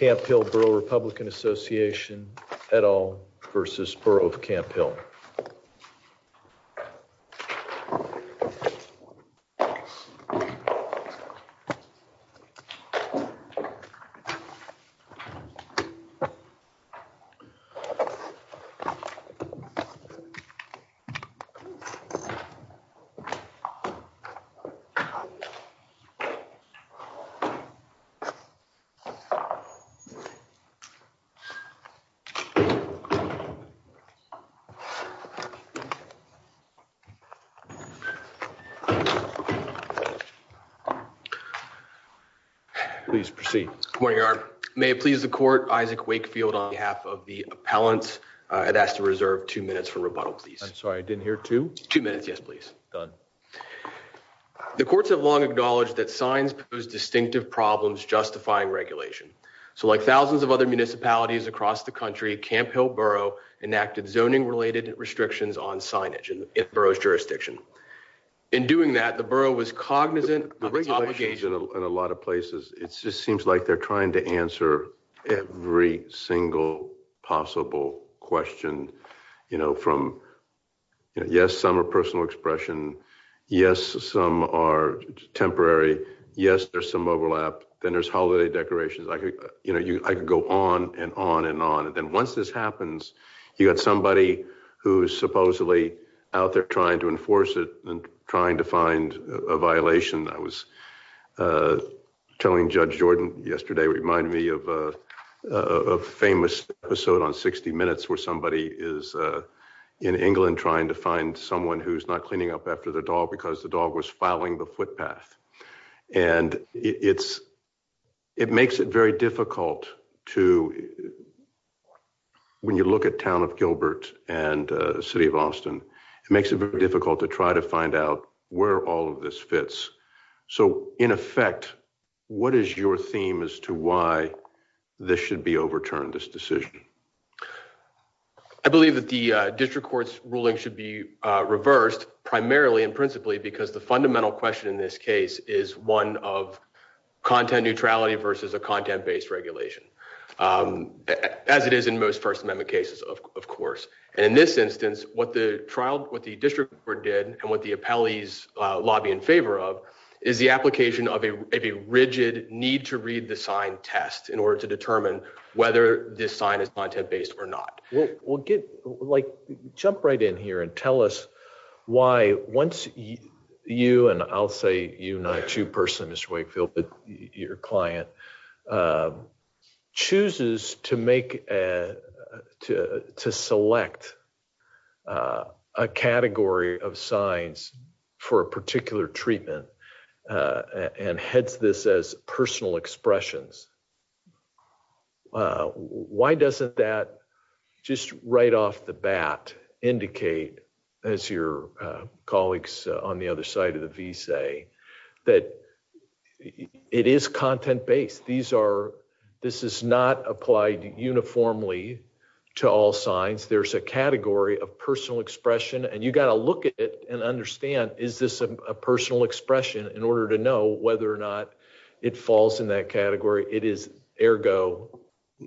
Camp Hill Borough Republican Association, et al. v. Borough of Camp Hill. Please proceed. Good morning, Your Honor. May it please the court, Isaac Wakefield on behalf of the appellants. I'd ask to reserve two minutes for rebuttal, please. I'm sorry, I didn't hear two? Two minutes, yes, please. Done. The courts have long acknowledged that signs pose distinctive problems justifying regulation. So, like thousands of other municipalities across the country, Camp Hill Borough enacted zoning-related restrictions on signage in the borough's jurisdiction. In doing that, the borough was cognizant of its obligation... The regulations in a lot of places, it just seems like they're trying to answer every single possible question, you know, from, yes, some are personal expression, yes, some are temporary, yes, there's some overlap, then there's holiday decorations. I could, you know, I could go on and on and on. And then once this happens, you've got somebody who's supposedly out there trying to enforce it and trying to find a violation. I was telling Judge Jordan yesterday, it reminded me of a famous episode on 60 Minutes where somebody is in England trying to find someone who's not cleaning up after their dog because the dog was fouling the footpath. And it makes it very difficult to, when you look at town of Gilbert and city of Austin, it makes it very difficult to try to find out where all of this fits. So, in effect, what is your theme as to why this should be overturned, this decision? I believe that the district court's ruling should be reversed primarily and principally because the fundamental question in this case is one of content neutrality versus a content-based regulation, as it is in most First Amendment cases, of course. And in this instance, what the district court did and what the appellees lobby in favor of is the application of a rigid need-to-read-the-sign test in order to determine whether this sign is content-based or not. Jump right in here and tell us why once you, and I'll say you, not you personally, Mr. Wakefield, but your client, chooses to select a category of signs for a particular treatment and heads this as personal expressions. Why doesn't that, just right off the bat, indicate, as your colleagues on the other side of the V say, that it is content-based. These are, this is not applied uniformly to all signs. There's a category of personal expression, and you got to look at it and understand, is this a personal expression in order to know whether or not it falls in that category? It is ergo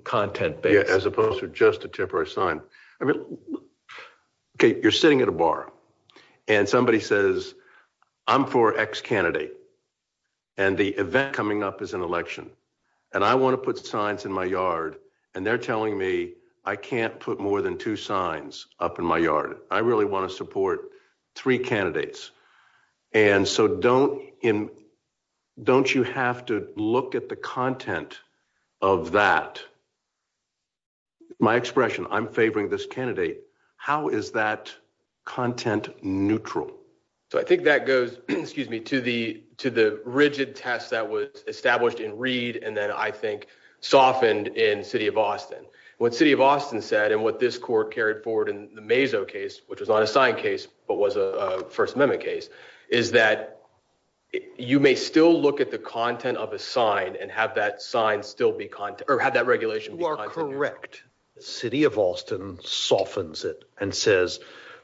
content-based. Yeah, as opposed to just a temporary sign. I mean, okay, you're sitting at a bar, and somebody says, I'm for X candidate, and the event coming up is an election, and I want to put signs in my yard, and they're telling me I can't put more than two signs up in my yard. I really want to support three candidates, and so don't you have to look at the content of that, my expression, I'm favoring this candidate. How is that content neutral? So I think that goes, excuse me, to the rigid test that was established in Reed, and then I think softened in City of Austin. What City of Austin said, and what this court carried forward in the Mazo case, which was not a signed case, but was a First Amendment case, is that you may still look at the content of a sign and have that sign still be content, or have that regulation be content. You are correct. City of Austin softens it and says,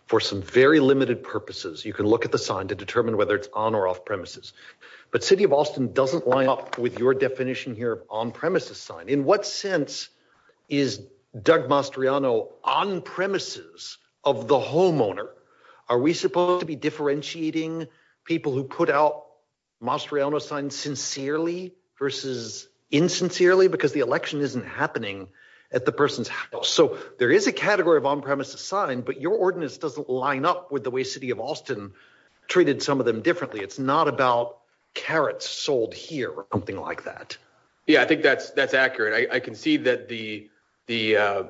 for some very limited purposes, you can look at the sign to determine whether it's on or off premises. But City of Austin doesn't line up with your definition here of on-premises sign. In what sense is Doug Mastriano on-premises of the homeowner? Are we supposed to be differentiating people who put out Mastriano signs sincerely versus insincerely? Because the election isn't happening at the person's house. So there is a category of on-premises sign, but your ordinance doesn't line up with the way City of Austin treated some of them differently. It's not about carrots sold here or something like that. Yeah, I think that's accurate. I can see that the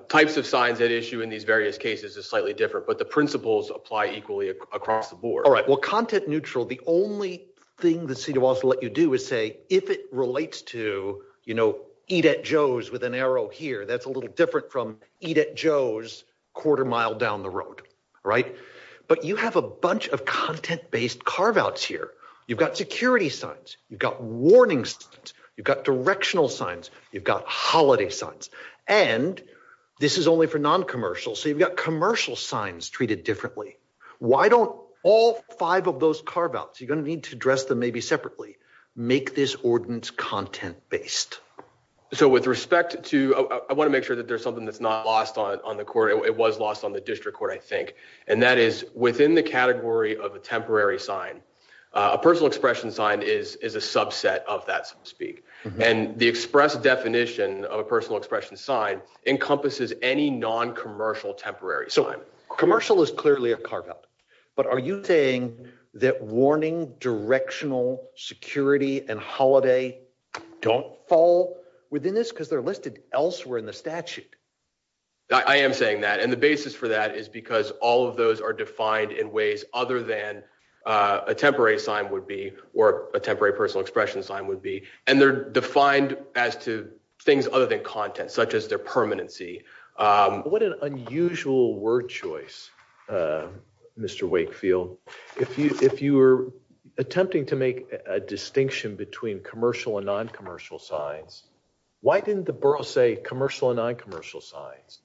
types of signs at issue in these various cases is slightly different, but the principles apply equally across the board. All right. Well, content-neutral, the only thing that City of Austin will let you do is say, if it relates to, you know, Eat at Joe's with an arrow here, that's a little different from Eat at Joe's quarter-mile down the road, right? But you have a bunch of content-based carve-outs here. You've got security signs. You've got warning signs. You've got directional signs. You've got holiday signs. And this is only for non-commercial, so you've got commercial signs treated differently. Why don't all five of those carve-outs, you're going to need to address them maybe separately, make this ordinance content-based? So with respect to, I want to make sure that there's something that's not lost on the court. It was lost on the district court, I think, and that is within the category of a temporary sign, a personal expression sign is a subset of that, so to speak. And the express definition of a personal expression sign encompasses any non-commercial temporary sign. So commercial is clearly a carve-out. But are you saying that warning, directional, security, and holiday don't fall within this? Because they're listed elsewhere in the statute. I am saying that. And the basis for that is because all of those are defined in ways other than a temporary sign would be or a temporary personal expression sign would be. And they're defined as to things other than content, such as their permanency. What an unusual word choice, Mr. Wakefield. If you were attempting to make a distinction between commercial and non-commercial signs, why didn't the borough say commercial and non-commercial signs?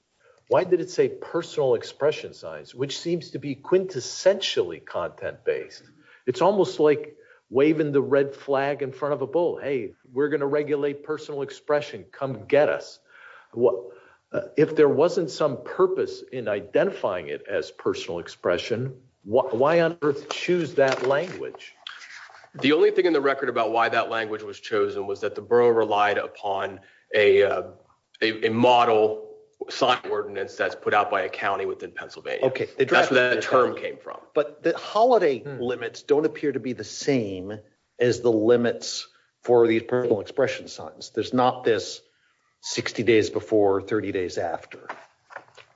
Why did it say personal expression signs, which seems to be quintessentially content-based? It's almost like waving the red flag in front of a bull. Hey, we're going to regulate personal expression. Come get us. If there wasn't some purpose in identifying it as personal expression, why on earth choose that language? The only thing in the record about why that language was chosen was that the borough relied upon a model sign ordinance that's put out by a county within Pennsylvania. Okay. That's where that term came from. But the holiday limits don't appear to be the same as the limits for these personal expression signs. There's not this 60 days before, 30 days after.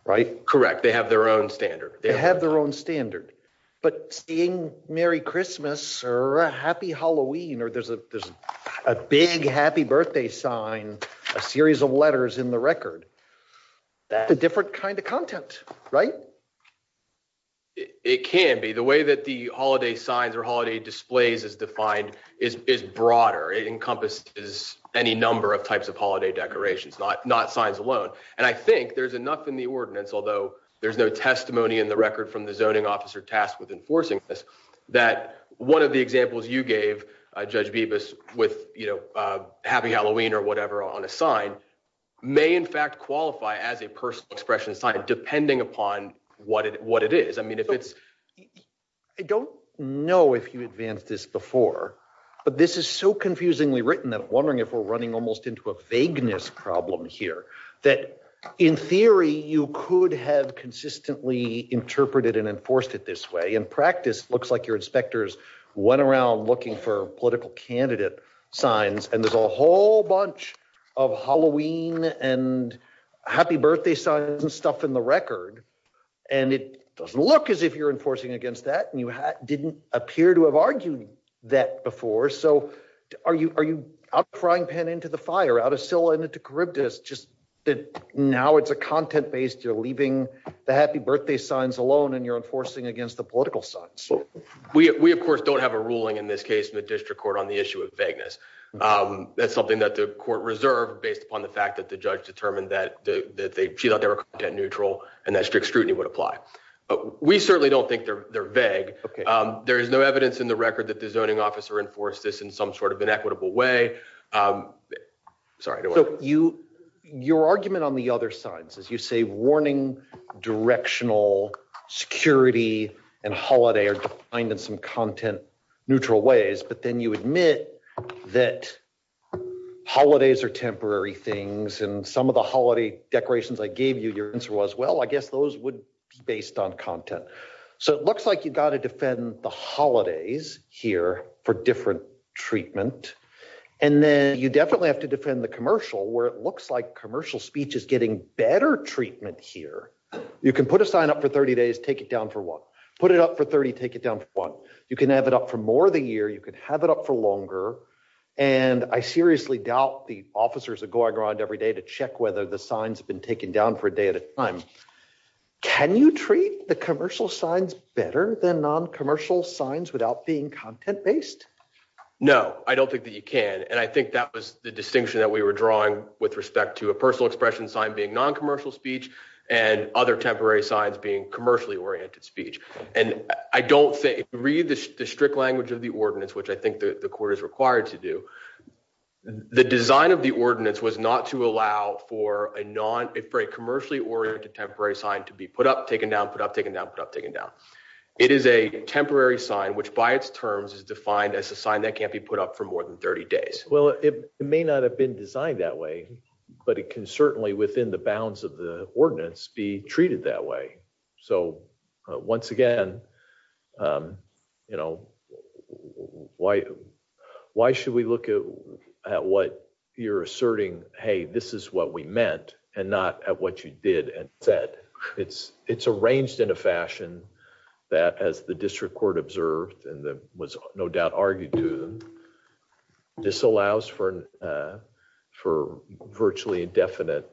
Right? Correct. They have their own standard. They have their own standard. But seeing Merry Christmas or Happy Halloween, or there's a big happy birthday sign, a series of letters in the record, that's a different kind of content. Right? It can be. The way that the holiday signs or holiday displays is defined is broader. It encompasses any number of types of holiday decorations, not signs alone. And I think there's enough in the ordinance, although there's no testimony in the record from the zoning officer tasked with enforcing this, that one of the examples you gave, Judge Bibas, with Happy Halloween or whatever on a sign, may in fact qualify as a personal expression sign, depending upon what it is. I mean, if it's... I don't know if you advanced this before, but this is so confusingly written that I'm wondering if we're running almost into a vagueness problem here. In theory, you could have consistently interpreted and enforced it this way. In practice, it looks like your inspectors went around looking for political candidate signs, and there's a whole bunch of Halloween and Happy Birthday signs and stuff in the record. And it doesn't look as if you're enforcing against that, and you didn't appear to have argued that before. Are you outcrying Penn into the fire, out of Scylla into Charybdis, just that now it's a content-based, you're leaving the Happy Birthday signs alone and you're enforcing against the political signs? We, of course, don't have a ruling in this case in the district court on the issue of vagueness. That's something that the court reserved based upon the fact that the judge determined that she thought they were content-neutral and that strict scrutiny would apply. We certainly don't think they're vague. There is no evidence in the record that the zoning officer enforced this in some sort of inequitable way. Your argument on the other side is you say warning, directional, security, and holiday are defined in some content-neutral ways, but then you admit that holidays are temporary things, and some of the holiday decorations I gave you, your answer was, well, I guess those would be based on content. So it looks like you've got to defend the holidays here for different treatment, and then you definitely have to defend the commercial where it looks like commercial speech is getting better treatment here. You can put a sign up for 30 days, take it down for one. Put it up for 30, take it down for one. You can have it up for more of the year. You can have it up for longer. And I seriously doubt the officers are going around every day to check whether the signs have been taken down for a day at a time. Can you treat the commercial signs better than non-commercial signs without being content-based? No, I don't think that you can. And I think that was the distinction that we were drawing with respect to a personal expression sign being non-commercial speech and other temporary signs being commercially oriented speech. And I don't think, if you read the strict language of the ordinance, which I think the court is required to do, the design of the ordinance was not to allow for a commercially oriented temporary sign to be put up, taken down, put up, taken down, put up, taken down. It is a temporary sign, which by its terms is defined as a sign that can't be put up for more than 30 days. Well, it may not have been designed that way, but it can certainly, within the bounds of the ordinance, be treated that way. So, once again, you know, why should we look at what you're asserting, hey, this is what we meant, and not at what you did and said. It's arranged in a fashion that, as the district court observed and was no doubt argued to, this allows for virtually indefinite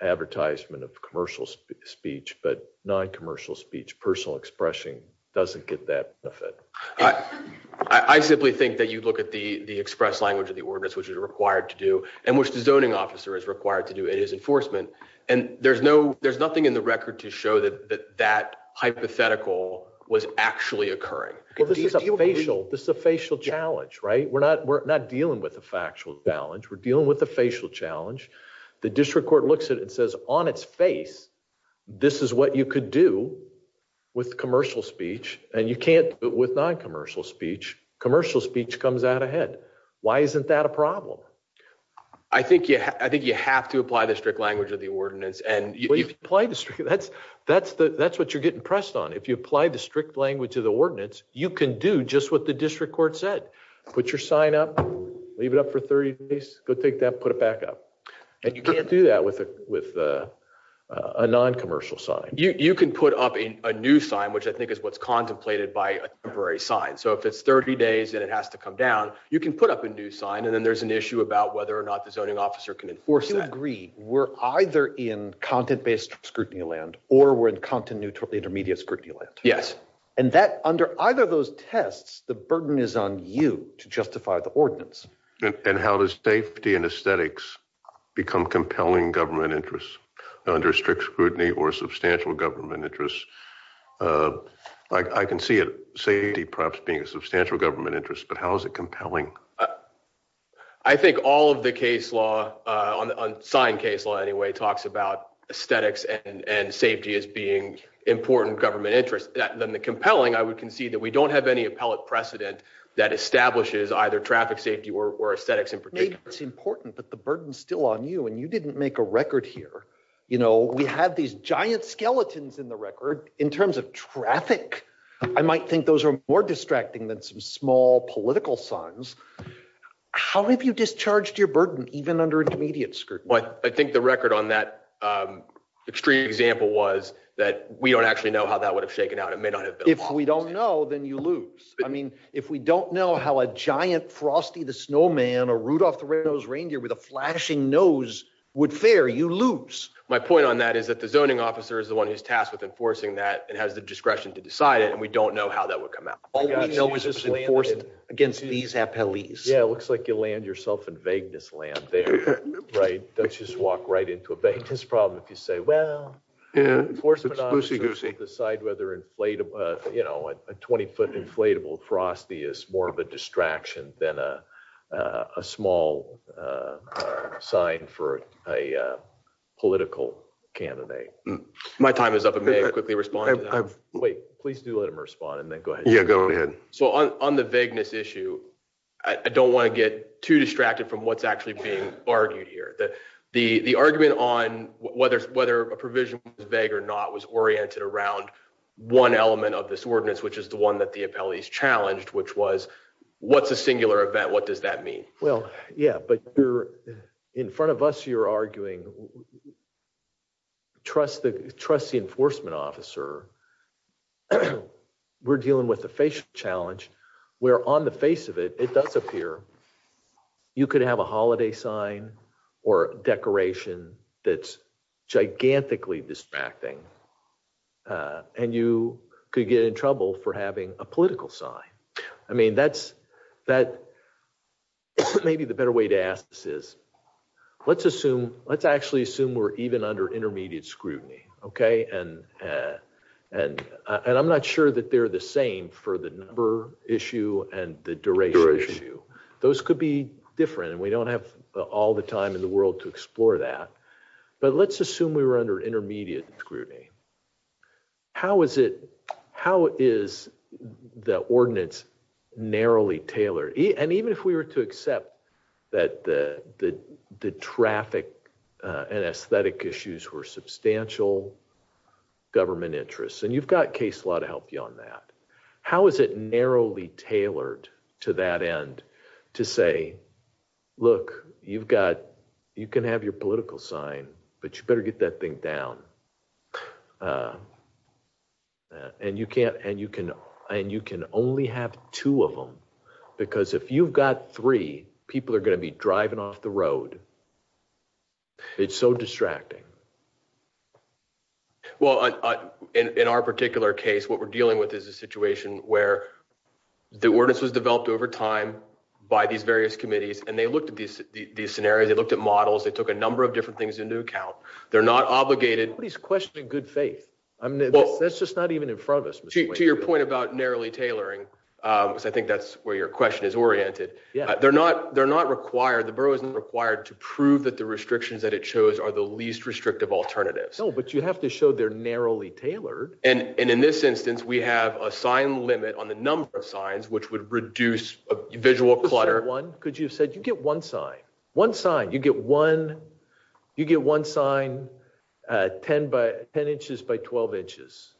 advertisement of commercial speech, but non-commercial speech, personal expression, doesn't get that benefit. I simply think that you look at the express language of the ordinance, which is required to do, and which the zoning officer is required to do in his enforcement, and there's nothing in the record to show that that hypothetical was actually occurring. This is a facial challenge, right? We're not dealing with a factual challenge. We're dealing with a facial challenge. The district court looks at it and says, on its face, this is what you could do with commercial speech, and you can't with non-commercial speech. Commercial speech comes out ahead. Why isn't that a problem? I think you have to apply the strict language of the ordinance. That's what you're getting pressed on. If you apply the strict language of the ordinance, you can do just what the district court said. Put your sign up, leave it up for 30 days, go take that, put it back up. And you can't do that with a non-commercial sign. You can put up a new sign, which I think is what's contemplated by a temporary sign. So if it's 30 days and it has to come down, you can put up a new sign, and then there's an issue about whether or not the zoning officer can enforce that. You agree we're either in content-based scrutiny land or we're in content-neutral intermediate scrutiny land. Yes. And under either of those tests, the burden is on you to justify the ordinance. And how does safety and aesthetics become compelling government interests under strict scrutiny or substantial government interests? I can see safety perhaps being a substantial government interest, but how is it compelling? I think all of the case law, sign case law anyway, talks about aesthetics and safety as being important government interests. The compelling, I would concede that we don't have any appellate precedent that establishes either traffic safety or aesthetics in particular. It's important, but the burden's still on you, and you didn't make a record here. We have these giant skeletons in the record in terms of traffic. I might think those are more distracting than some small political signs. How have you discharged your burden even under intermediate scrutiny? I think the record on that extreme example was that we don't actually know how that would have shaken out. It may not have been lost. If we don't know, then you lose. I mean, if we don't know how a giant Frosty the Snowman or Rudolph the Red-Nosed Reindeer with a flashing nose would fare, you lose. My point on that is that the zoning officer is the one who's tasked with enforcing that and has the discretion to decide it, and we don't know how that would come out. All we know is it's enforced against these appellees. Yeah, it looks like you land yourself in vagueness land there, right? Don't just walk right into a vagueness problem if you say, well, enforcement officers will decide whether a 20-foot inflatable Frosty is more of a distraction than a small sign for a political candidate. My time is up. I may have quickly responded. Wait, please do let him respond, and then go ahead. Yeah, go ahead. So on the vagueness issue, I don't want to get too distracted from what's actually being argued here. The argument on whether a provision was vague or not was oriented around one element of this ordinance, which is the one that the appellees challenged, which was, what's a singular event? What does that mean? Well, yeah, but in front of us, you're arguing, trust the enforcement officer. We're dealing with a facial challenge, where on the face of it, it does appear you could have a holiday sign or decoration that's gigantically distracting, and you could get in trouble for having a political sign. I mean, maybe the better way to ask this is, let's actually assume we're even under intermediate scrutiny, okay? And I'm not sure that they're the same for the number issue and the duration issue. Those could be different, and we don't have all the time in the world to explore that. But let's assume we were under intermediate scrutiny. How is the ordinance narrowly tailored? And even if we were to accept that the traffic and aesthetic issues were substantial government interests, and you've got case law to help you on that, how is it narrowly tailored to that end, to say, look, you can have your political sign, but you better get that thing down. And you can only have two of them, because if you've got three, people are going to be driving off the road. It's so distracting. Well, in our particular case, what we're dealing with is a situation where the ordinance was approved ahead of time by these various committees, and they looked at these scenarios. They looked at models. They took a number of different things into account. They're not obligated. But he's questioning good faith. That's just not even in front of us. To your point about narrowly tailoring, because I think that's where your question is oriented. Yeah. They're not required. The borough isn't required to prove that the restrictions that it chose are the least restrictive alternatives. No, but you have to show they're narrowly tailored. And in this instance, we have a sign limit on the number of signs, which would reduce visual clutter. Could you have said, you get one sign. One sign. You get one sign, 10 inches by 12 inches,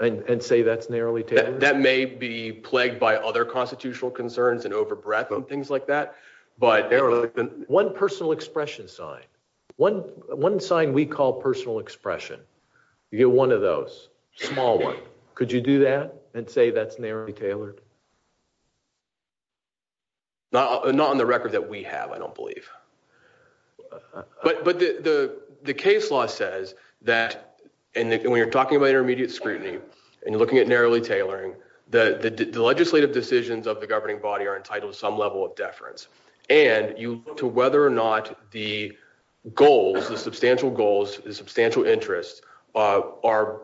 and say that's narrowly tailored? That may be plagued by other constitutional concerns and over-breath and things like that. But one personal expression sign. One sign we call personal expression. You get one of those. Small one. Could you do that and say that's narrowly tailored? Not on the record that we have, I don't believe. But the case law says that when you're talking about intermediate scrutiny and you're looking at narrowly tailoring, the legislative decisions of the governing body are entitled to some level of deference. And you look to whether or not the goals, the substantial goals, the substantial interests are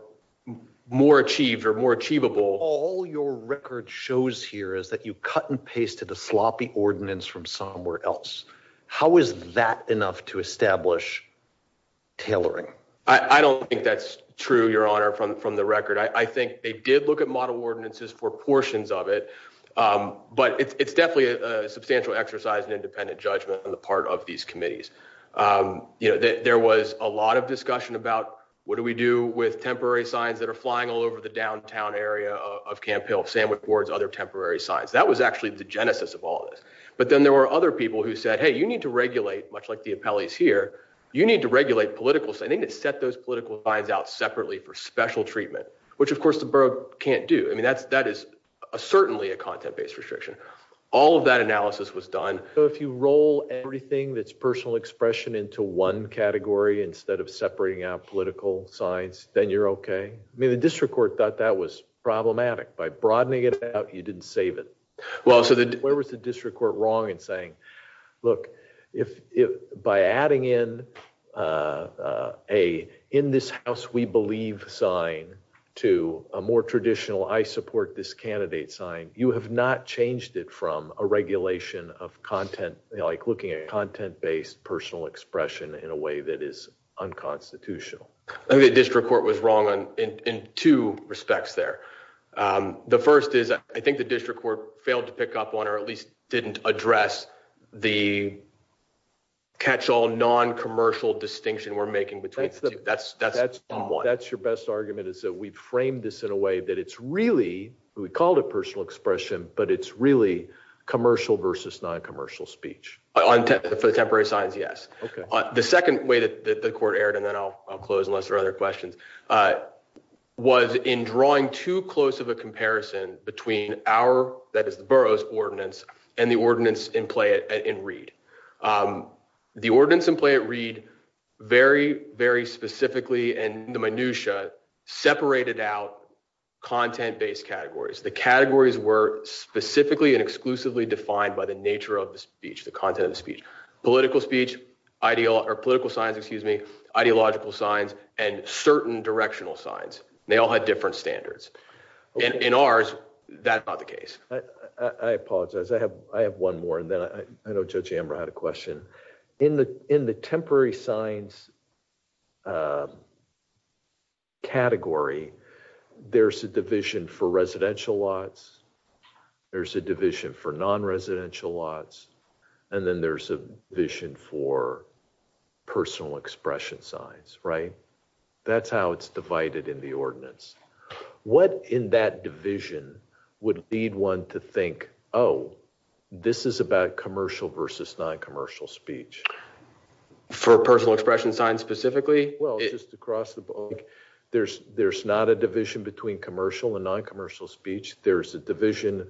more achieved or more achievable. All your record shows here is that you cut and paste to the sloppy ordinance from somewhere else. How is that enough to establish tailoring? I don't think that's true, Your Honor, from the record. I think they did look at model ordinances for portions of it. But it's definitely a substantial exercise in independent judgment on the part of these committees. There was a lot of discussion about what do we do with temporary signs that are flying all over the downtown area of Camp Hill, sandwich boards, other temporary signs. That was actually the genesis of all this. But then there were other people who said, hey, you need to regulate, much like the appellees here, you need to regulate political. I think it set those political lines out separately for special treatment, which, of course, the borough can't do. I mean, that's that is certainly a content based restriction. All of that analysis was done. So if you roll everything that's personal expression into one category instead of separating out political signs, then you're OK. I mean, the district court thought that was problematic by broadening it out. You didn't save it. Well, so where was the district court wrong in saying, look, if by adding in a in this house, we believe sign to a more traditional I support this candidate sign, you have not changed it from a regulation of content like looking at content based personal expression in a way that is unconstitutional. The district court was wrong in two respects there. The first is, I think the district court failed to pick up on or at least didn't address the catch all non-commercial distinction we're making. But that's that's that's that's your best argument is that we've framed this in a way that it's really we called a personal expression, but it's really commercial versus non-commercial speech on the temporary signs. Yes. The second way that the court aired and then I'll close unless there are other questions was in drawing too close of a comparison between our that is the borough's ordinance and the ordinance in play it in read the ordinance in play. Read very, very specifically and the minutiae separated out content based categories. The categories were specifically and exclusively defined by the nature of the speech. The content of the speech, political speech, ideal or political science, excuse me, ideological signs and certain directional signs. They all had different standards in ours. That's not the case. I apologize. I have I have one more. And then I know Judge Amber had a question in the in the temporary signs category. There's a division for residential lots. There's a division for non-residential lots. And then there's a vision for personal expression signs, right? What in that division would lead one to think, oh, this is about commercial versus non-commercial speech. For personal expression signs specifically. Well, just across the board, there's there's not a division between commercial and non-commercial speech. There's a division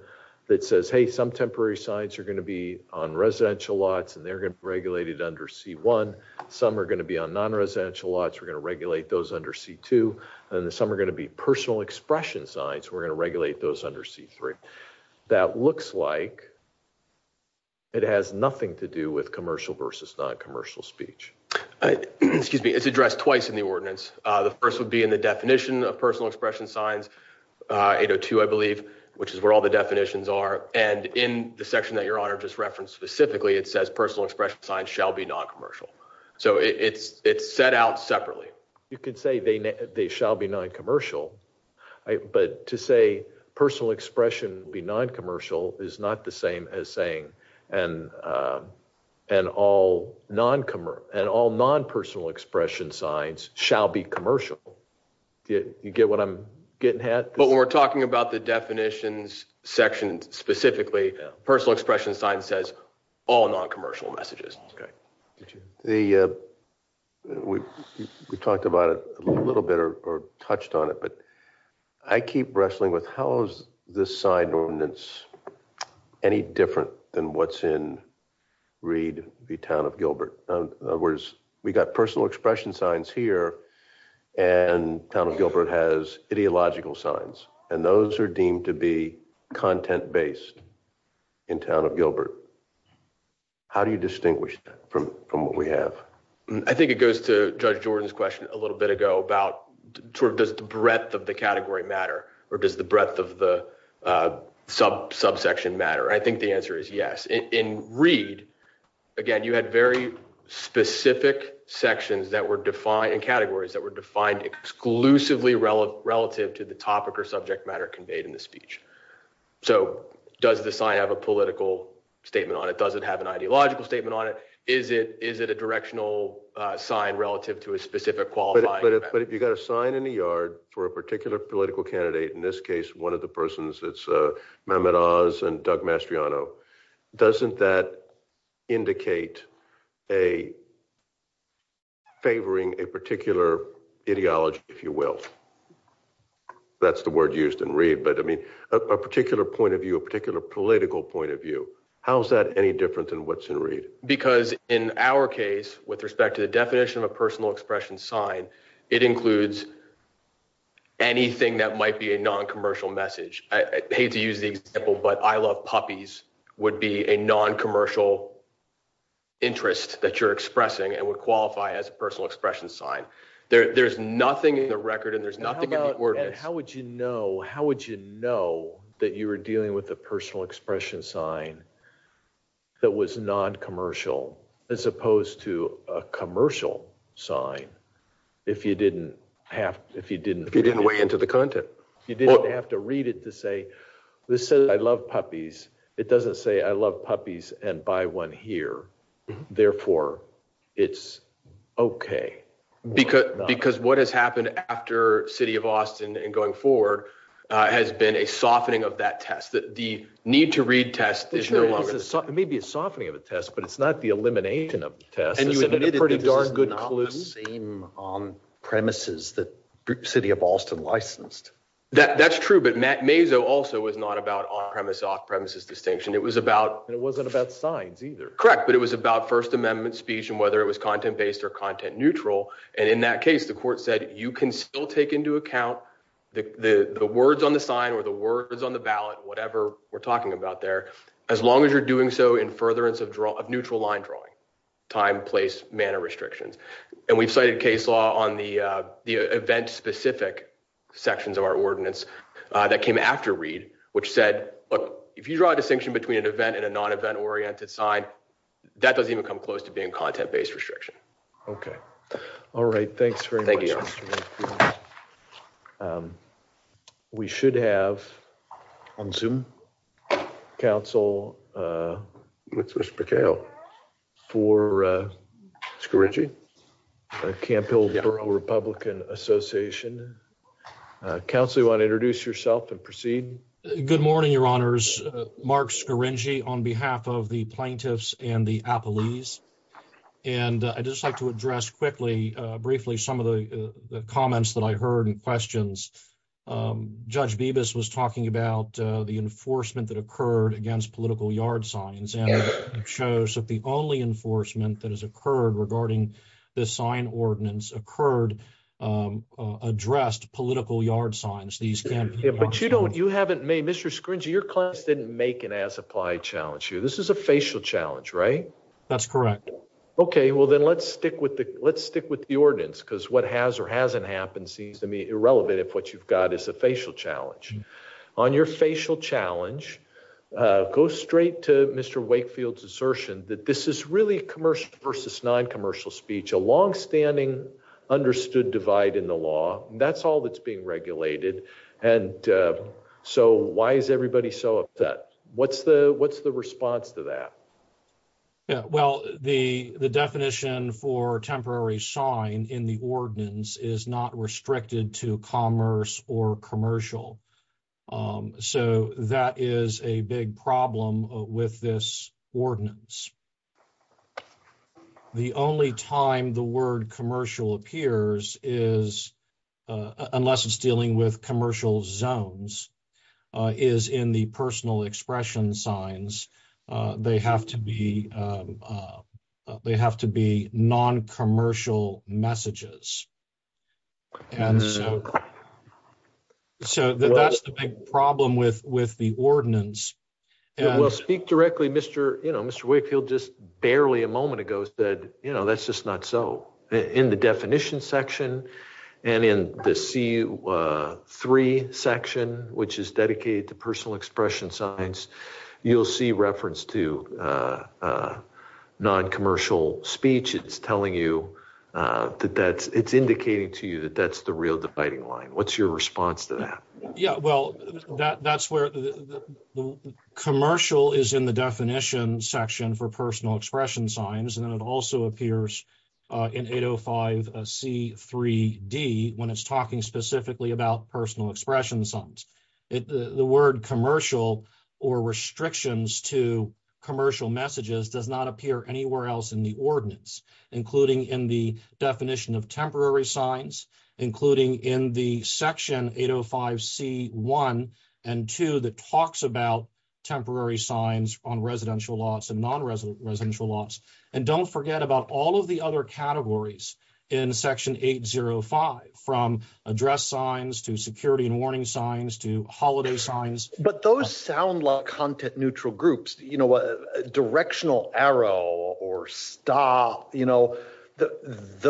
that says, hey, some temporary signs are going to be on residential lots and they're going to be regulated under C1. Some are going to be on non-residential lots. We're going to regulate those under C2 and then some are going to be personal expression signs. We're going to regulate those under C3. That looks like. It has nothing to do with commercial versus non-commercial speech. Excuse me. It's addressed twice in the ordinance. The first would be in the definition of personal expression signs 802, I believe, which is where all the definitions are. And in the section that your honor just referenced specifically, it says personal expression signs shall be non-commercial. So it's it's set out separately. You can say they they shall be non-commercial. But to say personal expression be non-commercial is not the same as saying and and all non-commer and all non-personal expression signs shall be commercial. You get what I'm getting at? But when we're talking about the definitions section specifically, personal expression sign says all non-commercial messages. We talked about it a little bit or touched on it, but I keep wrestling with how is this sign ordinance any different than what's in Reed v. Town of Gilbert? Whereas we got personal expression signs here and Town of Gilbert has ideological signs and those are deemed to be content based in Town of Gilbert. How do you distinguish that from what we have? I think it goes to Judge Jordan's question a little bit ago about sort of does the breadth of the category matter or does the breadth of the sub subsection matter? I think the answer is yes. In Reed, again, you had very specific sections that were defined in categories that were defined exclusively relative to the topic or subject matter conveyed in the speech. So does the sign have a political statement on it? Does it have an ideological statement on it? Is it is it a directional sign relative to a specific qualifier? But if you got a sign in the yard for a particular political candidate, in this case, one of the persons, it's Mehmet Oz and Doug Mastriano. Doesn't that indicate a favoring a particular ideology, if you will? That's the word used in Reed. But I mean, a particular point of view, a particular political point of view, how is that any different than what's in Reed? Because in our case, with respect to the definition of a personal expression sign, it includes anything that might be a non-commercial message. I hate to use the example, but I love puppies would be a non-commercial interest that you're expressing and would qualify as a personal expression sign. There's nothing in the record and there's nothing about how would you know? How would you know that you were dealing with a personal expression sign that was non-commercial as opposed to a commercial sign? If you didn't have if you didn't if you didn't weigh into the content, you didn't have to read it to say this. I love puppies. It doesn't say I love puppies and buy one here. Therefore, it's OK. Because because what has happened after city of Austin and going forward has been a softening of that test that the need to read test. It may be a softening of a test, but it's not the elimination of tests. And you admitted pretty darn good. Same on premises that city of Austin licensed. That's true. But Matt Maisel also was not about premise off premises distinction. It was about it wasn't about signs either. Correct. But it was about First Amendment speech and whether it was content based or content neutral. And in that case, the court said, you can still take into account the words on the sign or the words on the ballot, whatever we're talking about there, as long as you're doing so in furtherance of neutral line drawing time, place, manner restrictions. And we've cited case law on the event specific sections of our ordinance that came after which said, look, if you draw a distinction between an event and a non-event oriented side, that doesn't even come close to being content based restriction. OK. All right. Thanks very much. Thank you. We should have on Zoom. Council. Mr. McHale. For. Good morning. I'm Mark Scarringi, a Campbell Republican Association council. I want to introduce yourself and proceed. Good morning, Your Honors. Mark Scarringi on behalf of the plaintiffs and the appellees. And I just like to address quickly, briefly, some of the comments that I heard and questions. Judge Bibas was talking about the enforcement that occurred against political yard signs and shows that the only enforcement that has occurred regarding the sign ordinance occurred addressed political yard signs. These can be. But you don't you haven't made Mr. Scringey your class didn't make an as applied challenge here. This is a facial challenge, right? That's correct. OK, well, then let's stick with the let's stick with the ordinance because what has or hasn't happened seems to me irrelevant. If what you've got is a facial challenge on your facial challenge. Go straight to Mr. Wakefield's assertion that this is really a commercial versus non-commercial speech, a longstanding understood divide in the law. That's all that's being regulated. And so why is everybody so upset? What's the what's the response to that? Yeah, well, the the definition for temporary sign in the ordinance is not restricted to commerce or commercial. So that is a big problem with this ordinance. The only time the word commercial appears is unless it's dealing with commercial zones is in the personal expression signs. They have to be they have to be non-commercial messages. And so. So that's the big problem with with the ordinance. Speak directly, Mr. You know, Mr. Wakefield just barely a moment ago said, you know, that's just not so in the definition section and in the C-3 section, which is dedicated to personal expression signs, you'll see reference to non-commercial speech. It's telling you that that's it's indicating to you that that's the real dividing line. What's your response to that? Yeah, well, that's where the commercial is in the definition section for personal expression signs. And then it also appears in 805 C-3D when it's talking specifically about personal expression signs. The word commercial or restrictions to commercial messages does not appear anywhere else in the ordinance, including in the definition of temporary signs, including in the section 805 C-1 and 2 that talks about temporary signs on residential lots and non-residential lots. And don't forget about all of the other categories in section 805 from address signs to security and warning signs to holiday signs. But those sound like content neutral groups, you know, a directional arrow or stop, you know,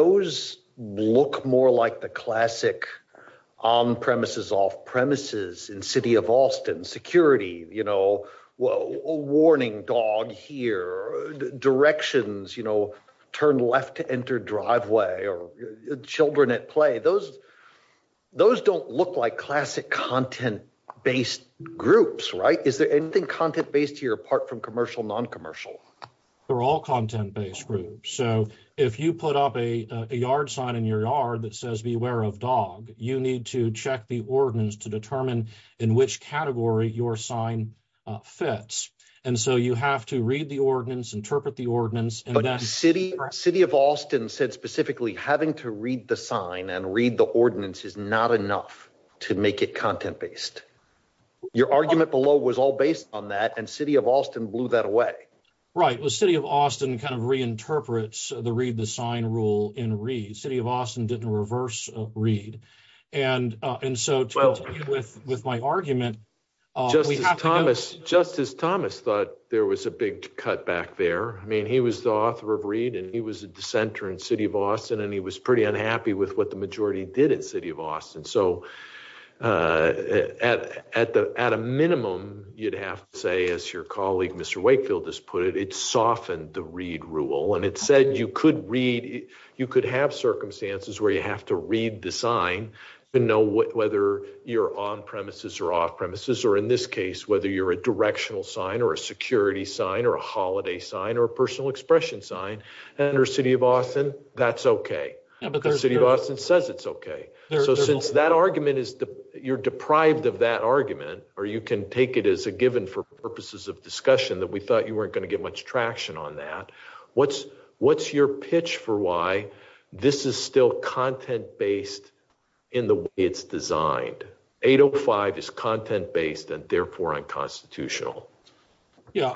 those look more like the classic on premises, off premises in city of Austin security, you know, a warning dog here directions, you know, turn left to enter driveway or children at play. Those those don't look like classic content based groups. Right. Is there anything content based here apart from commercial non-commercial? They're all content based groups. So if you put up a yard sign in your yard that says beware of dog, you need to check the ordinance to determine in which category your sign fits. And so you have to read the ordinance, interpret the ordinance and that city city of Austin said specifically having to read the sign and read the ordinance is not enough to make it content based. Your argument below was all based on that and city of Austin blew that away. Right. Well, city of Austin kind of reinterprets the read the sign rule in read city of Austin didn't reverse read. And and so with with my argument, just as Thomas, just as Thomas thought there was a big cut back there. I mean, he was the author of read and he was a dissenter in city of Austin and he was pretty unhappy with what the majority did at city of Austin. So at at the at a minimum, you'd have to say, as your colleague, Mr. Wakefield has put it, it's softened the read rule and it said you could read you could have circumstances where you have to read the sign to know whether you're on premises or off premises or in this case, whether you're a directional sign or a security sign or a holiday sign or a personal expression sign under city of Austin. That's okay. But the city of Austin says it's okay. So since that argument is you're deprived of that argument, or you can take it as a given for purposes of discussion that we thought you weren't going to get much traction on that. What's, what's your pitch for why this is still content based in the way it's designed 805 is content based and therefore unconstitutional. Yeah,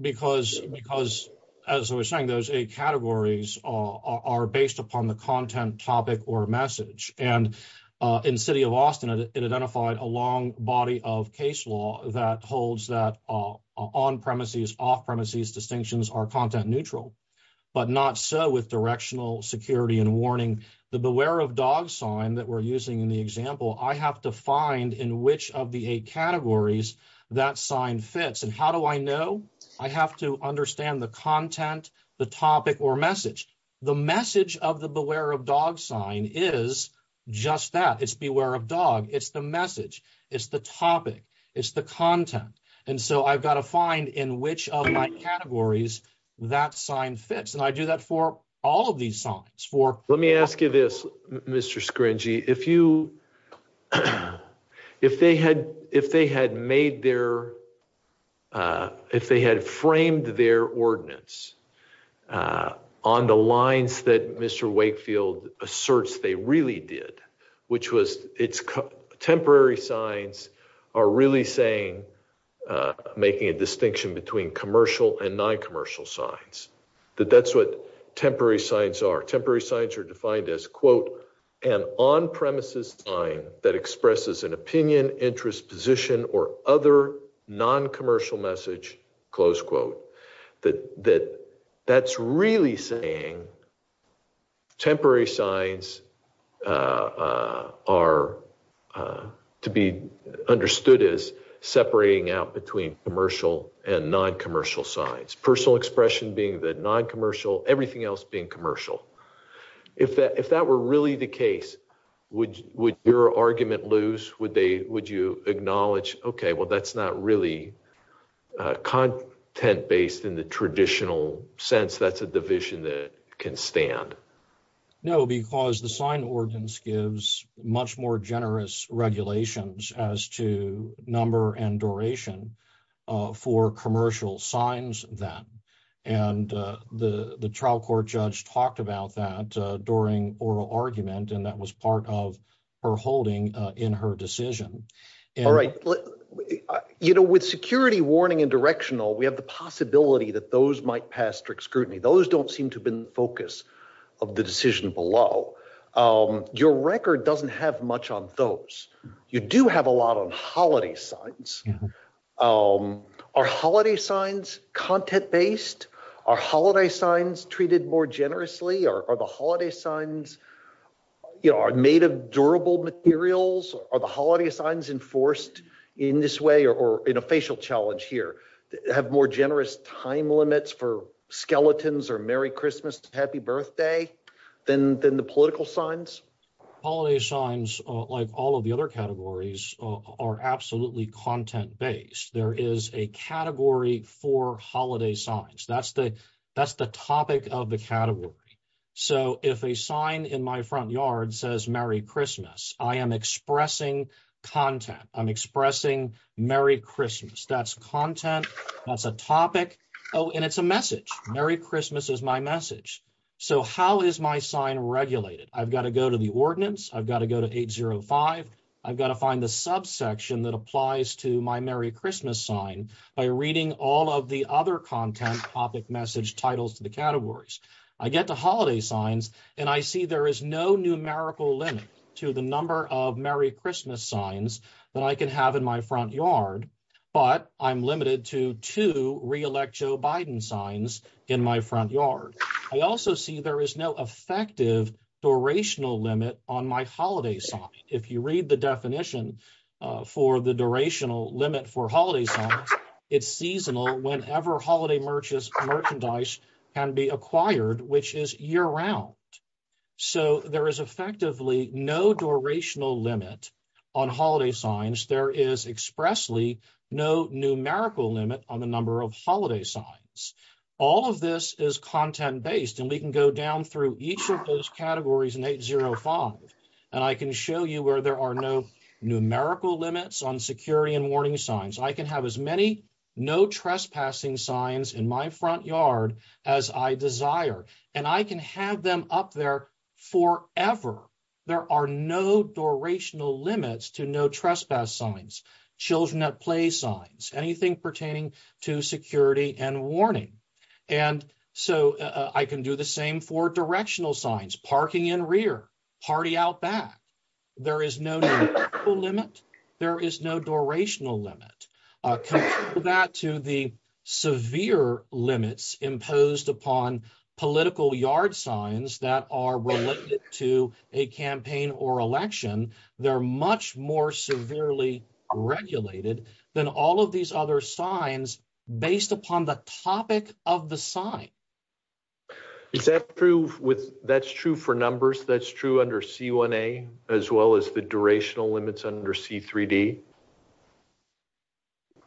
because, because, as I was saying those eight categories are based upon the content topic or message and in city of Austin identified a long body of case law that holds that on premises off premises distinctions are content neutral, but not so with directional security and warning the beware of dog sign that we're using in the example I have to find in which of the eight categories. That sign fits and how do I know I have to understand the content, the topic or message, the message of the beware of dog sign is just that it's beware of dog, it's the message is the topic is the content. And so I've got to find in which of my categories that sign fits and I do that for all of these songs for, let me ask you this, Mr screen G if you, if they had, if they had made their, if they had framed their ordinance. On the lines that Mr Wakefield asserts they really did, which was, it's temporary signs are really saying, making a distinction between commercial and non commercial signs that that's what temporary signs are temporary signs are defined as quote, and on premises sign that expresses an opinion interest position or other non commercial message, close quote. That that that's really saying temporary signs are to be understood as separating out between commercial and non commercial signs personal expression being that non commercial everything else being commercial. If that if that were really the case, would, would your argument lose would they would you acknowledge okay well that's not really content based in the traditional sense that's a division that can stand. No, because the sign ordinance gives much more generous regulations as to number and duration for commercial signs that, and the the trial court judge talked about that during oral argument and that was part of her holding in her decision. All right, you know, with security warning and directional we have the possibility that those might pass strict scrutiny those don't seem to have been focus of the decision below your record doesn't have much on those you do have a lot on holiday signs. Oh, our holiday signs content based our holiday signs treated more generously or the holiday signs. You are made of durable materials are the holiday signs enforced in this way or in a facial challenge here have more generous time limits for skeletons or Merry Christmas, Happy Birthday, then then the political signs. Holiday signs, like all of the other categories are absolutely content based, there is a category for holiday signs that's the that's the topic of the category. So, if a sign in my front yard says Merry Christmas, I am expressing content I'm expressing Merry Christmas that's content. That's a topic. Oh, and it's a message. Merry Christmas is my message. So how is my sign regulated, I've got to go to the ordinance, I've got to go to 805. I've got to find the subsection that applies to my Merry Christmas sign by reading all of the other content topic message titles to the categories. I get the holiday signs, and I see there is no numerical limit to the number of Merry Christmas signs that I can have in my front yard, but I'm limited to to reelect Joe Biden signs in my front yard. I also see there is no effective durational limit on my holiday sign. If you read the definition for the durational limit for holidays, it's seasonal whenever holiday merchants merchandise can be acquired, which is year round. So, there is effectively no durational limit on holiday signs there is expressly no numerical limit on the number of holiday signs. All of this is content based and we can go down through each of those categories and 805, and I can show you where there are no numerical limits on security and warning signs I can have as many no trespassing signs in my front yard, as I desire, and I can have them up there for ever. There are no durational limits to no trespass signs, children at play signs, anything pertaining to security and warning. And so I can do the same for directional signs parking in rear party out back. There is no limit. There is no durational limit that to the severe limits imposed upon political yard signs that are related to a campaign or election. They're much more severely regulated than all of these other signs, based upon the topic of the sign. Is that true with that's true for numbers that's true under see one a, as well as the durational limits under see 3d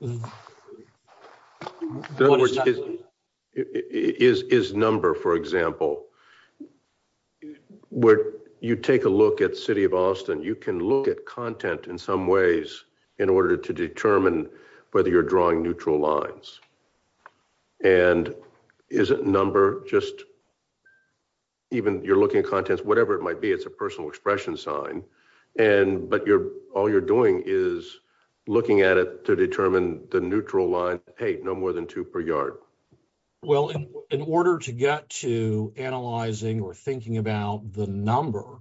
is number for example, where you take a look at city of Austin, you can look at content in some ways, in order to determine whether you're drawing neutral lines. And isn't number just even you're looking at contents, whatever it might be it's a personal expression sign. And, but you're all you're doing is looking at it to determine the neutral line, hey, no more than two per yard. Well, in order to get to analyzing or thinking about the number.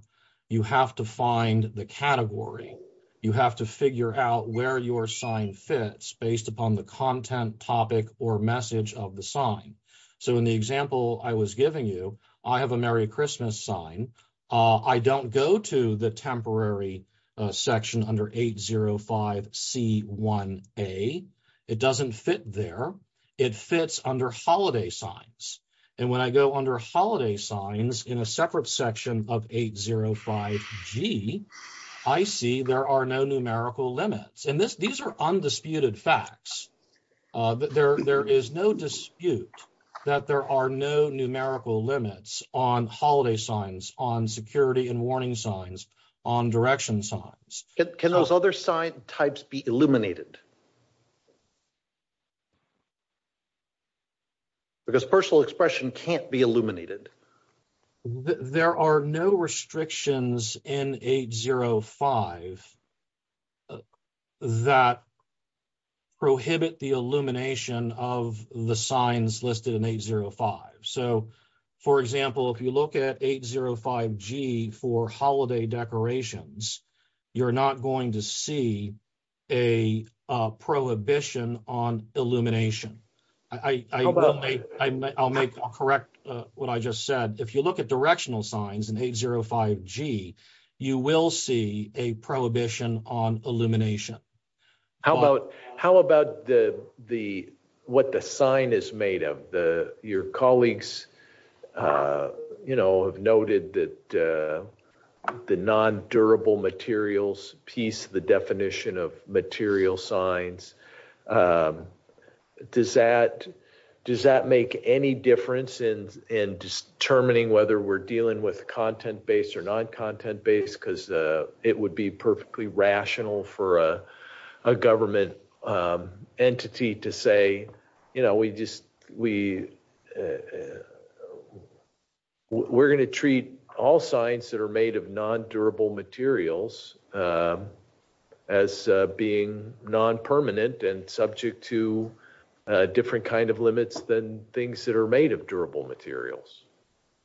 You have to find the category, you have to figure out where your sign fits based upon the content topic or message of the sign. So, in the example I was giving you, I have a Merry Christmas sign. I don't go to the temporary section under 805 c one a, it doesn't fit there. It fits under holiday signs. And when I go under holiday signs in a separate section of 805 G. I see there are no numerical limits and this these are undisputed facts that there is no dispute that there are no numerical limits on holiday signs on security and warning signs on direction signs. Can those other side types be illuminated. Because personal expression can't be illuminated. There are no restrictions in 805 that prohibit the illumination of the signs listed in 805. So, for example, if you look at 805 G for holiday decorations. You're not going to see a prohibition on illumination. I will make I'll make a correct. What I just said, if you look at directional signs and 805 G, you will see a prohibition on illumination. How about, how about the, the, what the sign is made of the, your colleagues, you know, have noted that the non durable materials piece the definition of material signs. Does that, does that make any difference in, in determining whether we're dealing with content based or non content based because it would be perfectly rational for a government entity to say, you know, we just, we, we're going to treat all signs that are made of non durable materials. As being non permanent and subject to different kind of limits than things that are made of durable materials.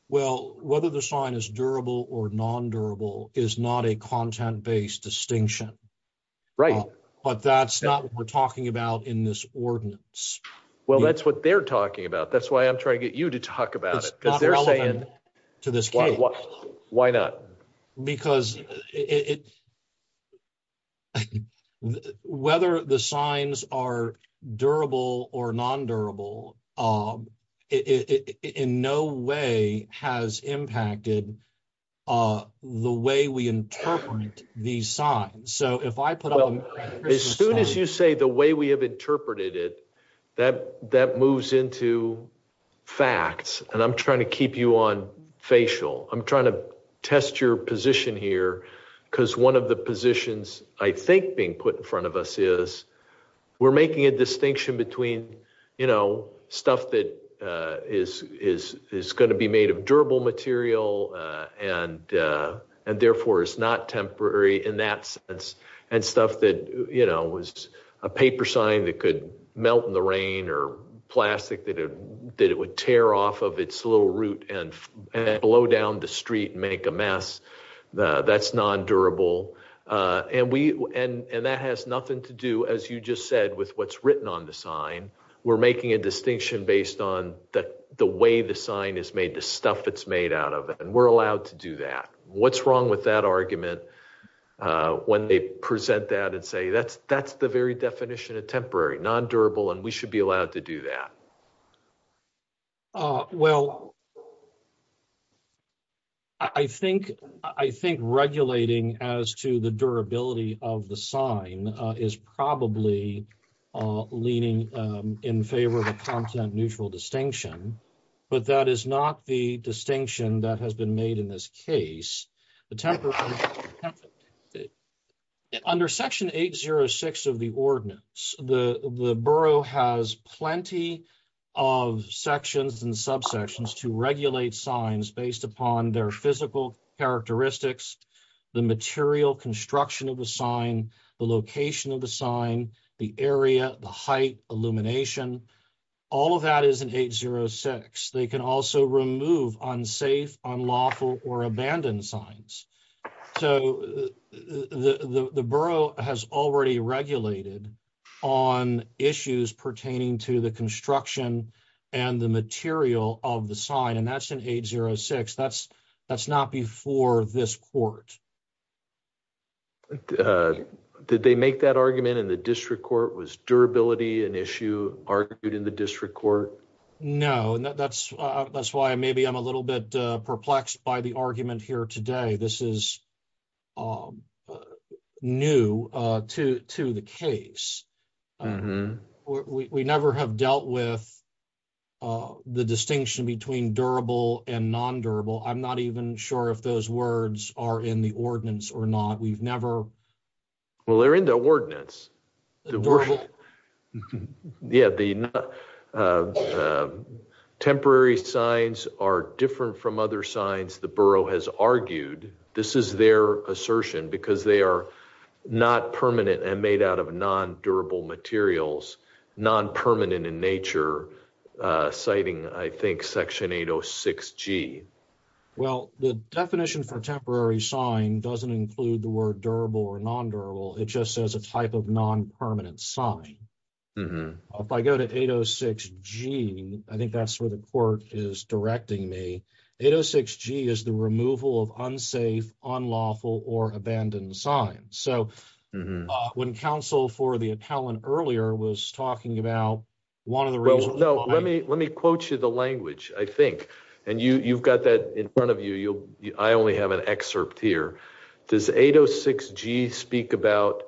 Well, whether the sign is durable or non durable is not a content based distinction. Right. But that's not what we're talking about in this ordinance. Well, that's what they're talking about. That's why I'm trying to get you to talk about it because they're saying to this. Why not. Because it. Whether the signs are durable or non durable. As soon as you say the way we have interpreted it, that, that moves into facts, and I'm trying to keep you on facial, I'm trying to test your position here, because one of the positions, I think being put in front of us is we're making a distinction between, you know, stuff that is, is, is going to be made of durable material, and, and therefore it's not temporary in that sense, and stuff that, you know, was a paper sign that could melt in the rain or plastic that it did it would tear off of its little route and blow down the street and make a mess. That's non durable. And we, and that has nothing to do as you just said with what's written on the sign. We're making a distinction based on that the way the sign is made the stuff that's made out of it and we're allowed to do that. What's wrong with that argument. When they present that and say that's, that's the very definition of temporary non durable and we should be allowed to do that. Well, I think, I think regulating as to the durability of the sign is probably leaning in favor of a content neutral distinction, but that is not the distinction that has been made in this case, the temper. Under section 806 of the ordinance, the, the borough has plenty of sections and subsections to regulate signs based upon their physical characteristics, the material construction of the sign the location of the sign the area, the height of the sign. Illumination. All of that is an 806 they can also remove on safe on lawful or abandoned signs. So, the borough has already regulated on issues pertaining to the construction and the material of the sign and that's an 806 that's that's not before this court. Did they make that argument in the district court was durability and issue argued in the district court. No, that's, that's why maybe I'm a little bit perplexed by the argument here today this is all new to to the case. We never have dealt with the distinction between durable and non durable I'm not even sure if those words are in the ordinance or not we've never. Well they're in the ordinance. The word. Yeah, the temporary signs are different from other signs the borough has argued, this is their assertion because they are not permanent and made out of non durable materials non permanent in nature, citing I think section 806 G. Well, the definition for temporary sign doesn't include the word durable or non durable it just says a type of non permanent sign. If I go to 806 gene, I think that's where the court is directing me 806 G is the removal of unsafe on lawful or abandoned sign. So, when counsel for the appellant earlier was talking about one of the real well let me let me quote you the language, I think, and you you've got that in front of you, you'll, I only have an excerpt here. Does 806 G speak about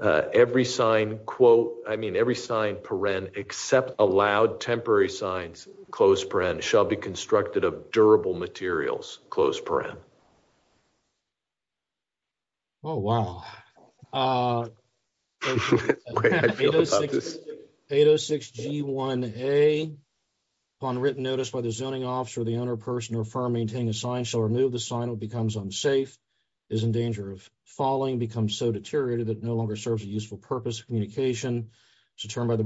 every sign quote, I mean every sign paren except allowed temporary signs, close brand shall be constructed of durable materials, close brand. Oh wow. 806 G one a on written notice by the zoning officer the owner person or for maintaining a sign shall remove the sign will becomes unsafe is in danger of falling become so deteriorated that no longer serves a useful purpose communication to turn by the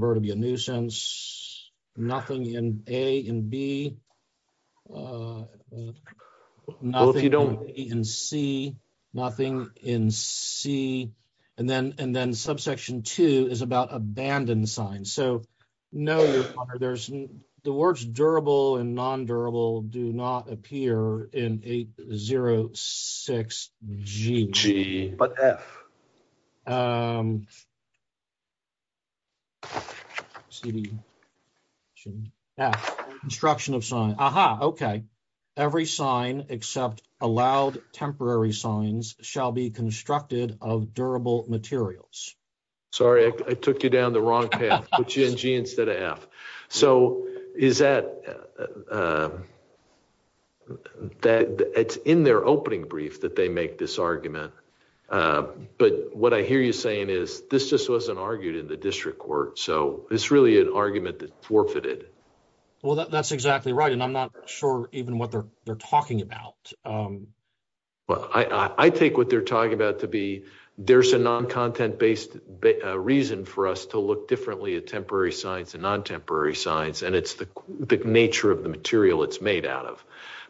And then, and then subsection two is about abandoned sign so know there's the words durable and non durable do not appear in 806 gg, but Okay. See the instruction of sign. Aha. Okay. Every sign, except allowed temporary signs shall be constructed of durable materials. Sorry, I took you down the wrong path, which NG instead of F. So, is that that it's in their opening brief that they make this argument. But what I hear you saying is this just wasn't argued in the district court so it's really an argument that forfeited. Well, that's exactly right and I'm not sure, even what they're, they're talking about. Well, I take what they're talking about to be, there's a non content based reason for us to look differently a temporary science and non temporary science and it's the nature of the material it's made out of.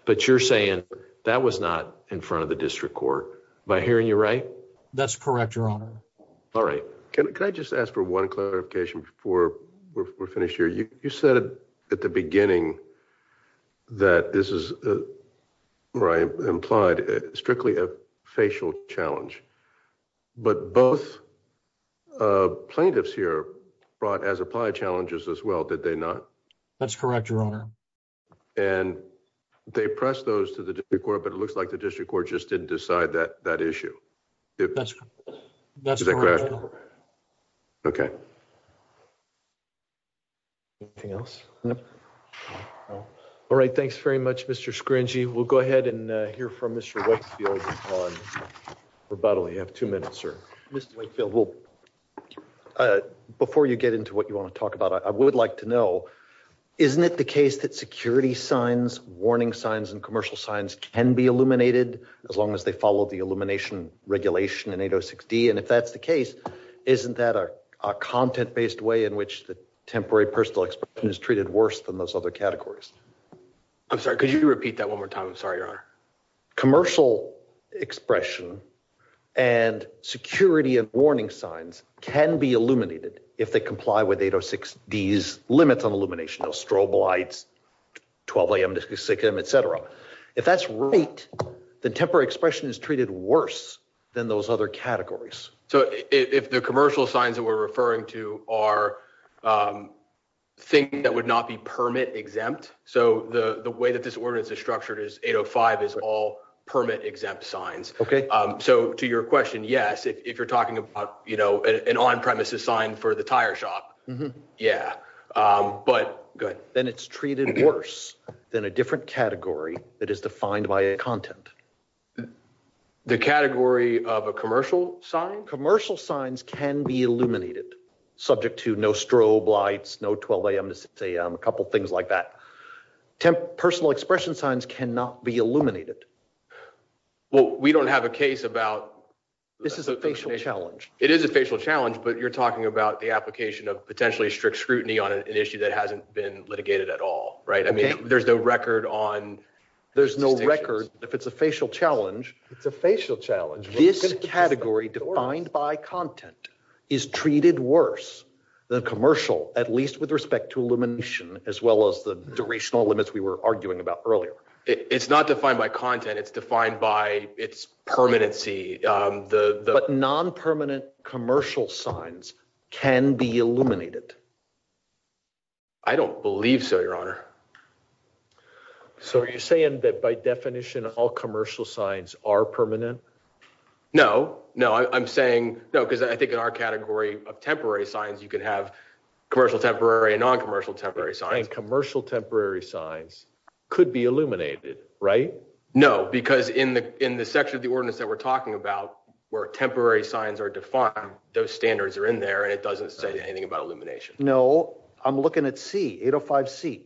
But you're saying that was not in front of the district court by hearing you right. That's correct, Your Honor. All right. Can I just ask for one clarification before we're finished here you said at the beginning that this is right implied strictly a facial challenge. But both plaintiffs here brought as applied challenges as well did they not. That's correct, Your Honor. And they press those to the court but it looks like the district court just didn't decide that that issue. That's, that's. Okay. Anything else. All right, thanks very much, Mr scringy we'll go ahead and hear from Mr. Rebuttal you have two minutes or Mr Wakefield will. Before you get into what you want to talk about I would like to know. Isn't it the case that security signs warning signs and commercial signs can be illuminated, as long as they follow the illumination regulation and 806 D and if that's the case. Isn't that a content based way in which the temporary personal expression is treated worse than those other categories. I'm sorry, could you repeat that one more time I'm sorry your commercial expression and security and warning signs can be illuminated, if they comply with 806 these limits on illumination of strobe lights. 12am to 6am etc. If that's right, the temporary expression is treated worse than those other categories. So, if the commercial signs that we're referring to our thing that would not be permit exempt. So the way that this ordinance is structured is 805 is all permit exempt signs. Okay. So, to your question, yes, if you're talking about, you know, an on premises sign for the tire shop. Yeah, but good, then it's treated worse than a different category that is defined by a content. The category of a commercial sign commercial signs can be illuminated subject to no strobe lights no 12am to say a couple things like that. Personal expression signs cannot be illuminated. Well, we don't have a case about this is a challenge, it is a facial challenge but you're talking about the application of potentially strict scrutiny on an issue that hasn't been litigated at all right I mean there's no record on. There's no record, if it's a facial challenge, it's a facial challenge this category defined by content is treated worse than commercial, at least with respect to illumination, as well as the duration of limits we were arguing about earlier, it's not defined by content it's defined by its permanency, the non permanent commercial signs can be illuminated. I don't believe so your honor. So you're saying that by definition all commercial signs are permanent. No, no, I'm saying, no, because I think in our category of temporary signs you can have commercial temporary non commercial temporary sign commercial temporary signs could be illuminated. Right. No, because in the, in the section of the ordinance that we're talking about, where temporary signs are defined those standards are in there and it doesn't say anything about illumination. No, I'm looking at see 805 C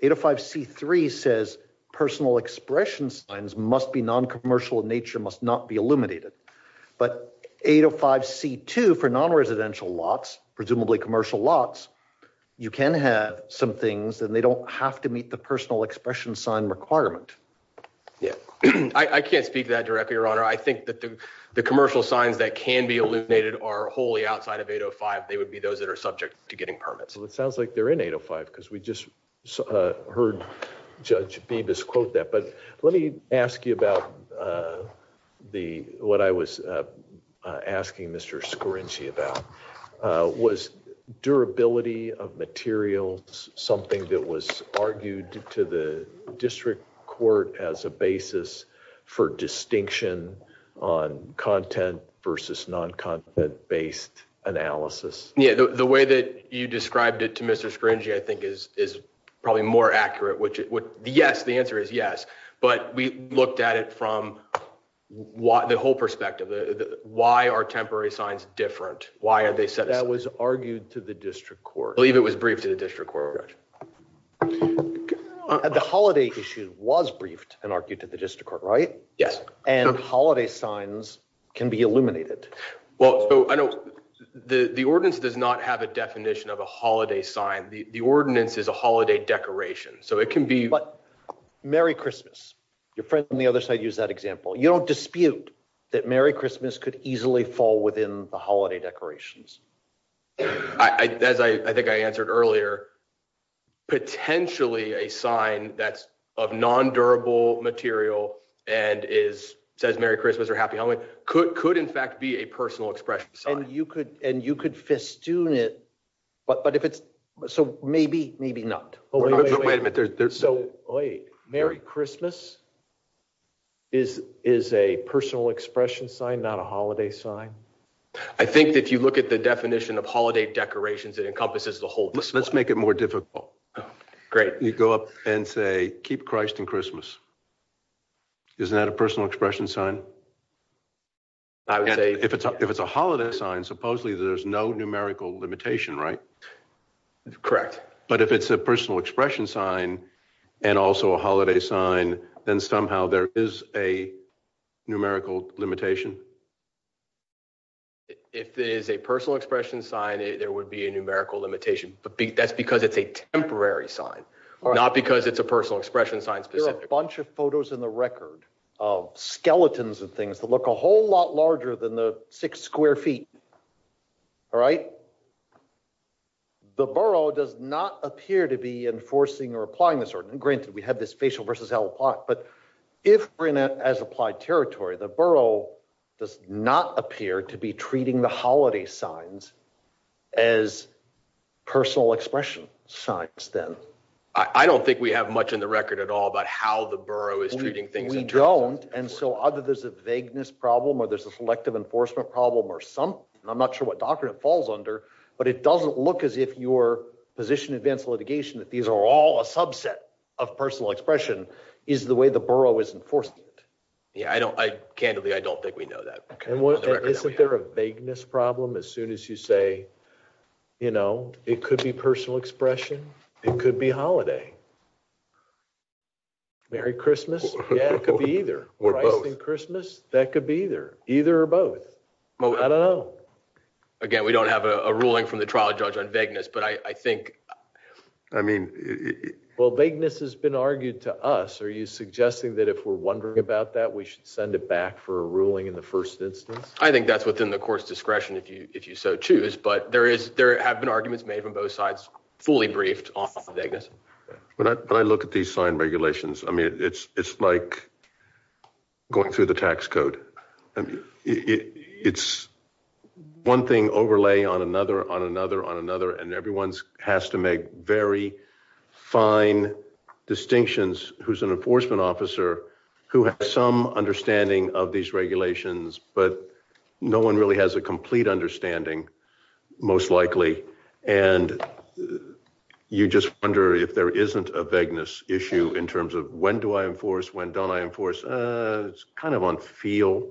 805 C three says personal expression signs must be non commercial nature must not be eliminated. But 805 C two for non residential lots, presumably commercial lots. You can have some things and they don't have to meet the personal expression sign requirement. Yeah, I can't speak that directly your honor I think that the commercial signs that can be eliminated are wholly outside of 805 they would be those that are subject to getting permits, it sounds like they're in 805 because we just heard. Judge Davis quote that but let me ask you about the, what I was asking Mr screen she about was durability of materials, something that was argued to the district court as a basis for distinction on content versus non content based analysis. Yeah, the way that you described it to Mr screen she I think is, is probably more accurate which would be yes the answer is yes, but we looked at it from what the whole perspective. Why are temporary signs different, why are they said that was argued to the district court believe it was briefed to the district court. The holiday issue was briefed and argued to the district court right yes and holiday signs can be illuminated. Well, I know the the ordinance does not have a definition of a holiday sign the ordinance is a holiday decoration so it can be, but Merry Christmas, your friend on the other side use that example you don't dispute that Merry Christmas could easily fall within the holiday decorations. I, as I think I answered earlier, potentially a sign that's of non durable material, and is says Merry Christmas or Happy Holidays could could in fact be a personal expression so you could, and you could festoon it. But but if it's so maybe, maybe not. Wait a minute. So, wait, Merry Christmas is, is a personal expression sign not a holiday sign. I think that if you look at the definition of holiday decorations that encompasses the whole list let's make it more difficult. Great. You go up and say, keep Christ and Christmas. Isn't that a personal expression sign. If it's, if it's a holiday sign supposedly there's no numerical limitation right. Correct. But if it's a personal expression sign, and also a holiday sign, then somehow there is a numerical limitation. If there is a personal expression sign it there would be a numerical limitation, but that's because it's a temporary sign, or not because it's a personal expression science because a bunch of photos in the record of skeletons and things that look a whole lot larger than the six square feet. All right. The borough does not appear to be enforcing or applying this or granted we have this facial versus l plot but if we're in as applied territory the borough does not appear to be treating the holiday signs as personal expression science then I don't think we have much in the record at all but how the borough is treating things we don't. And so either there's a vagueness problem or there's a selective enforcement problem or some, I'm not sure what doctrine it falls under, but it doesn't look as if your position advanced litigation that these are all a subset of personal expression is the way the borough is enforced. Yeah, I don't I can't do the I don't think we know that. Isn't there a vagueness problem as soon as you say, you know, it could be personal expression, it could be holiday. Merry Christmas. Yeah, it could be either Christmas, that could be either, either or both. Well, I don't know. Again, we don't have a ruling from the trial judge on vagueness but I think, I mean, well vagueness has been argued to us are you suggesting that if we're wondering about that we should send it back for a ruling in the first instance, I think that's within the court's discretion if you if you so choose but there is there have been arguments made from both sides, fully briefed on Vegas. When I look at these signed regulations. I mean, it's, it's like going through the tax code. It's one thing overlay on another on another on another and everyone's has to make very fine distinctions, who's an enforcement officer who has some understanding of these regulations, but no one really has a complete understanding, most likely, and you just wonder if there isn't a vagueness issue in terms of when do I enforce when don't I enforce. It's kind of on feel.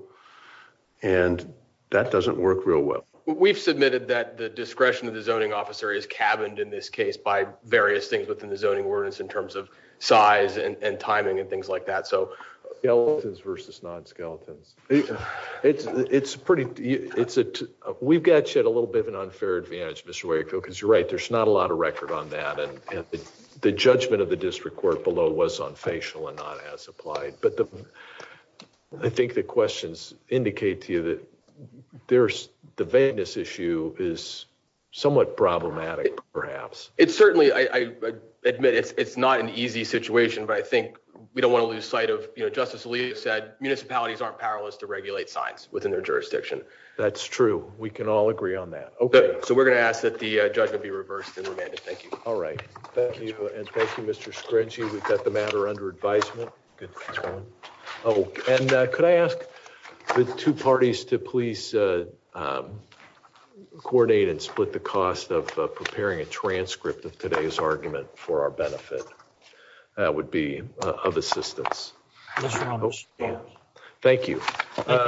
And that doesn't work real well. We've submitted that the discretion of the zoning officer is cabined in this case by various things within the zoning ordinance in terms of size and timing and things like that. So, yeah, versus non skeletons. It's, it's pretty, it's a, we've got you had a little bit of an unfair advantage Mr where you go because you're right there's not a lot of record on that and the judgment of the district court below was on facial and not as applied, but I think the questions indicate to you that there's the vagueness issue is somewhat problematic, perhaps, it's certainly I admit it's it's not an easy situation but I think we don't want to lose sight of it. And I think that's kind of, you know, Justice Lee said municipalities aren't powerless to regulate science within their jurisdiction. That's true, we can all agree on that. Okay, so we're going to ask that the judgment be reversed and remanded Thank you. All right. Thank you. And thank you Mr scrunchie we've got the matter under advisement. Oh, and could I ask the two parties to please coordinate and split the cost of preparing a transcript of today's argument for our benefit would be of assistance. Thank you.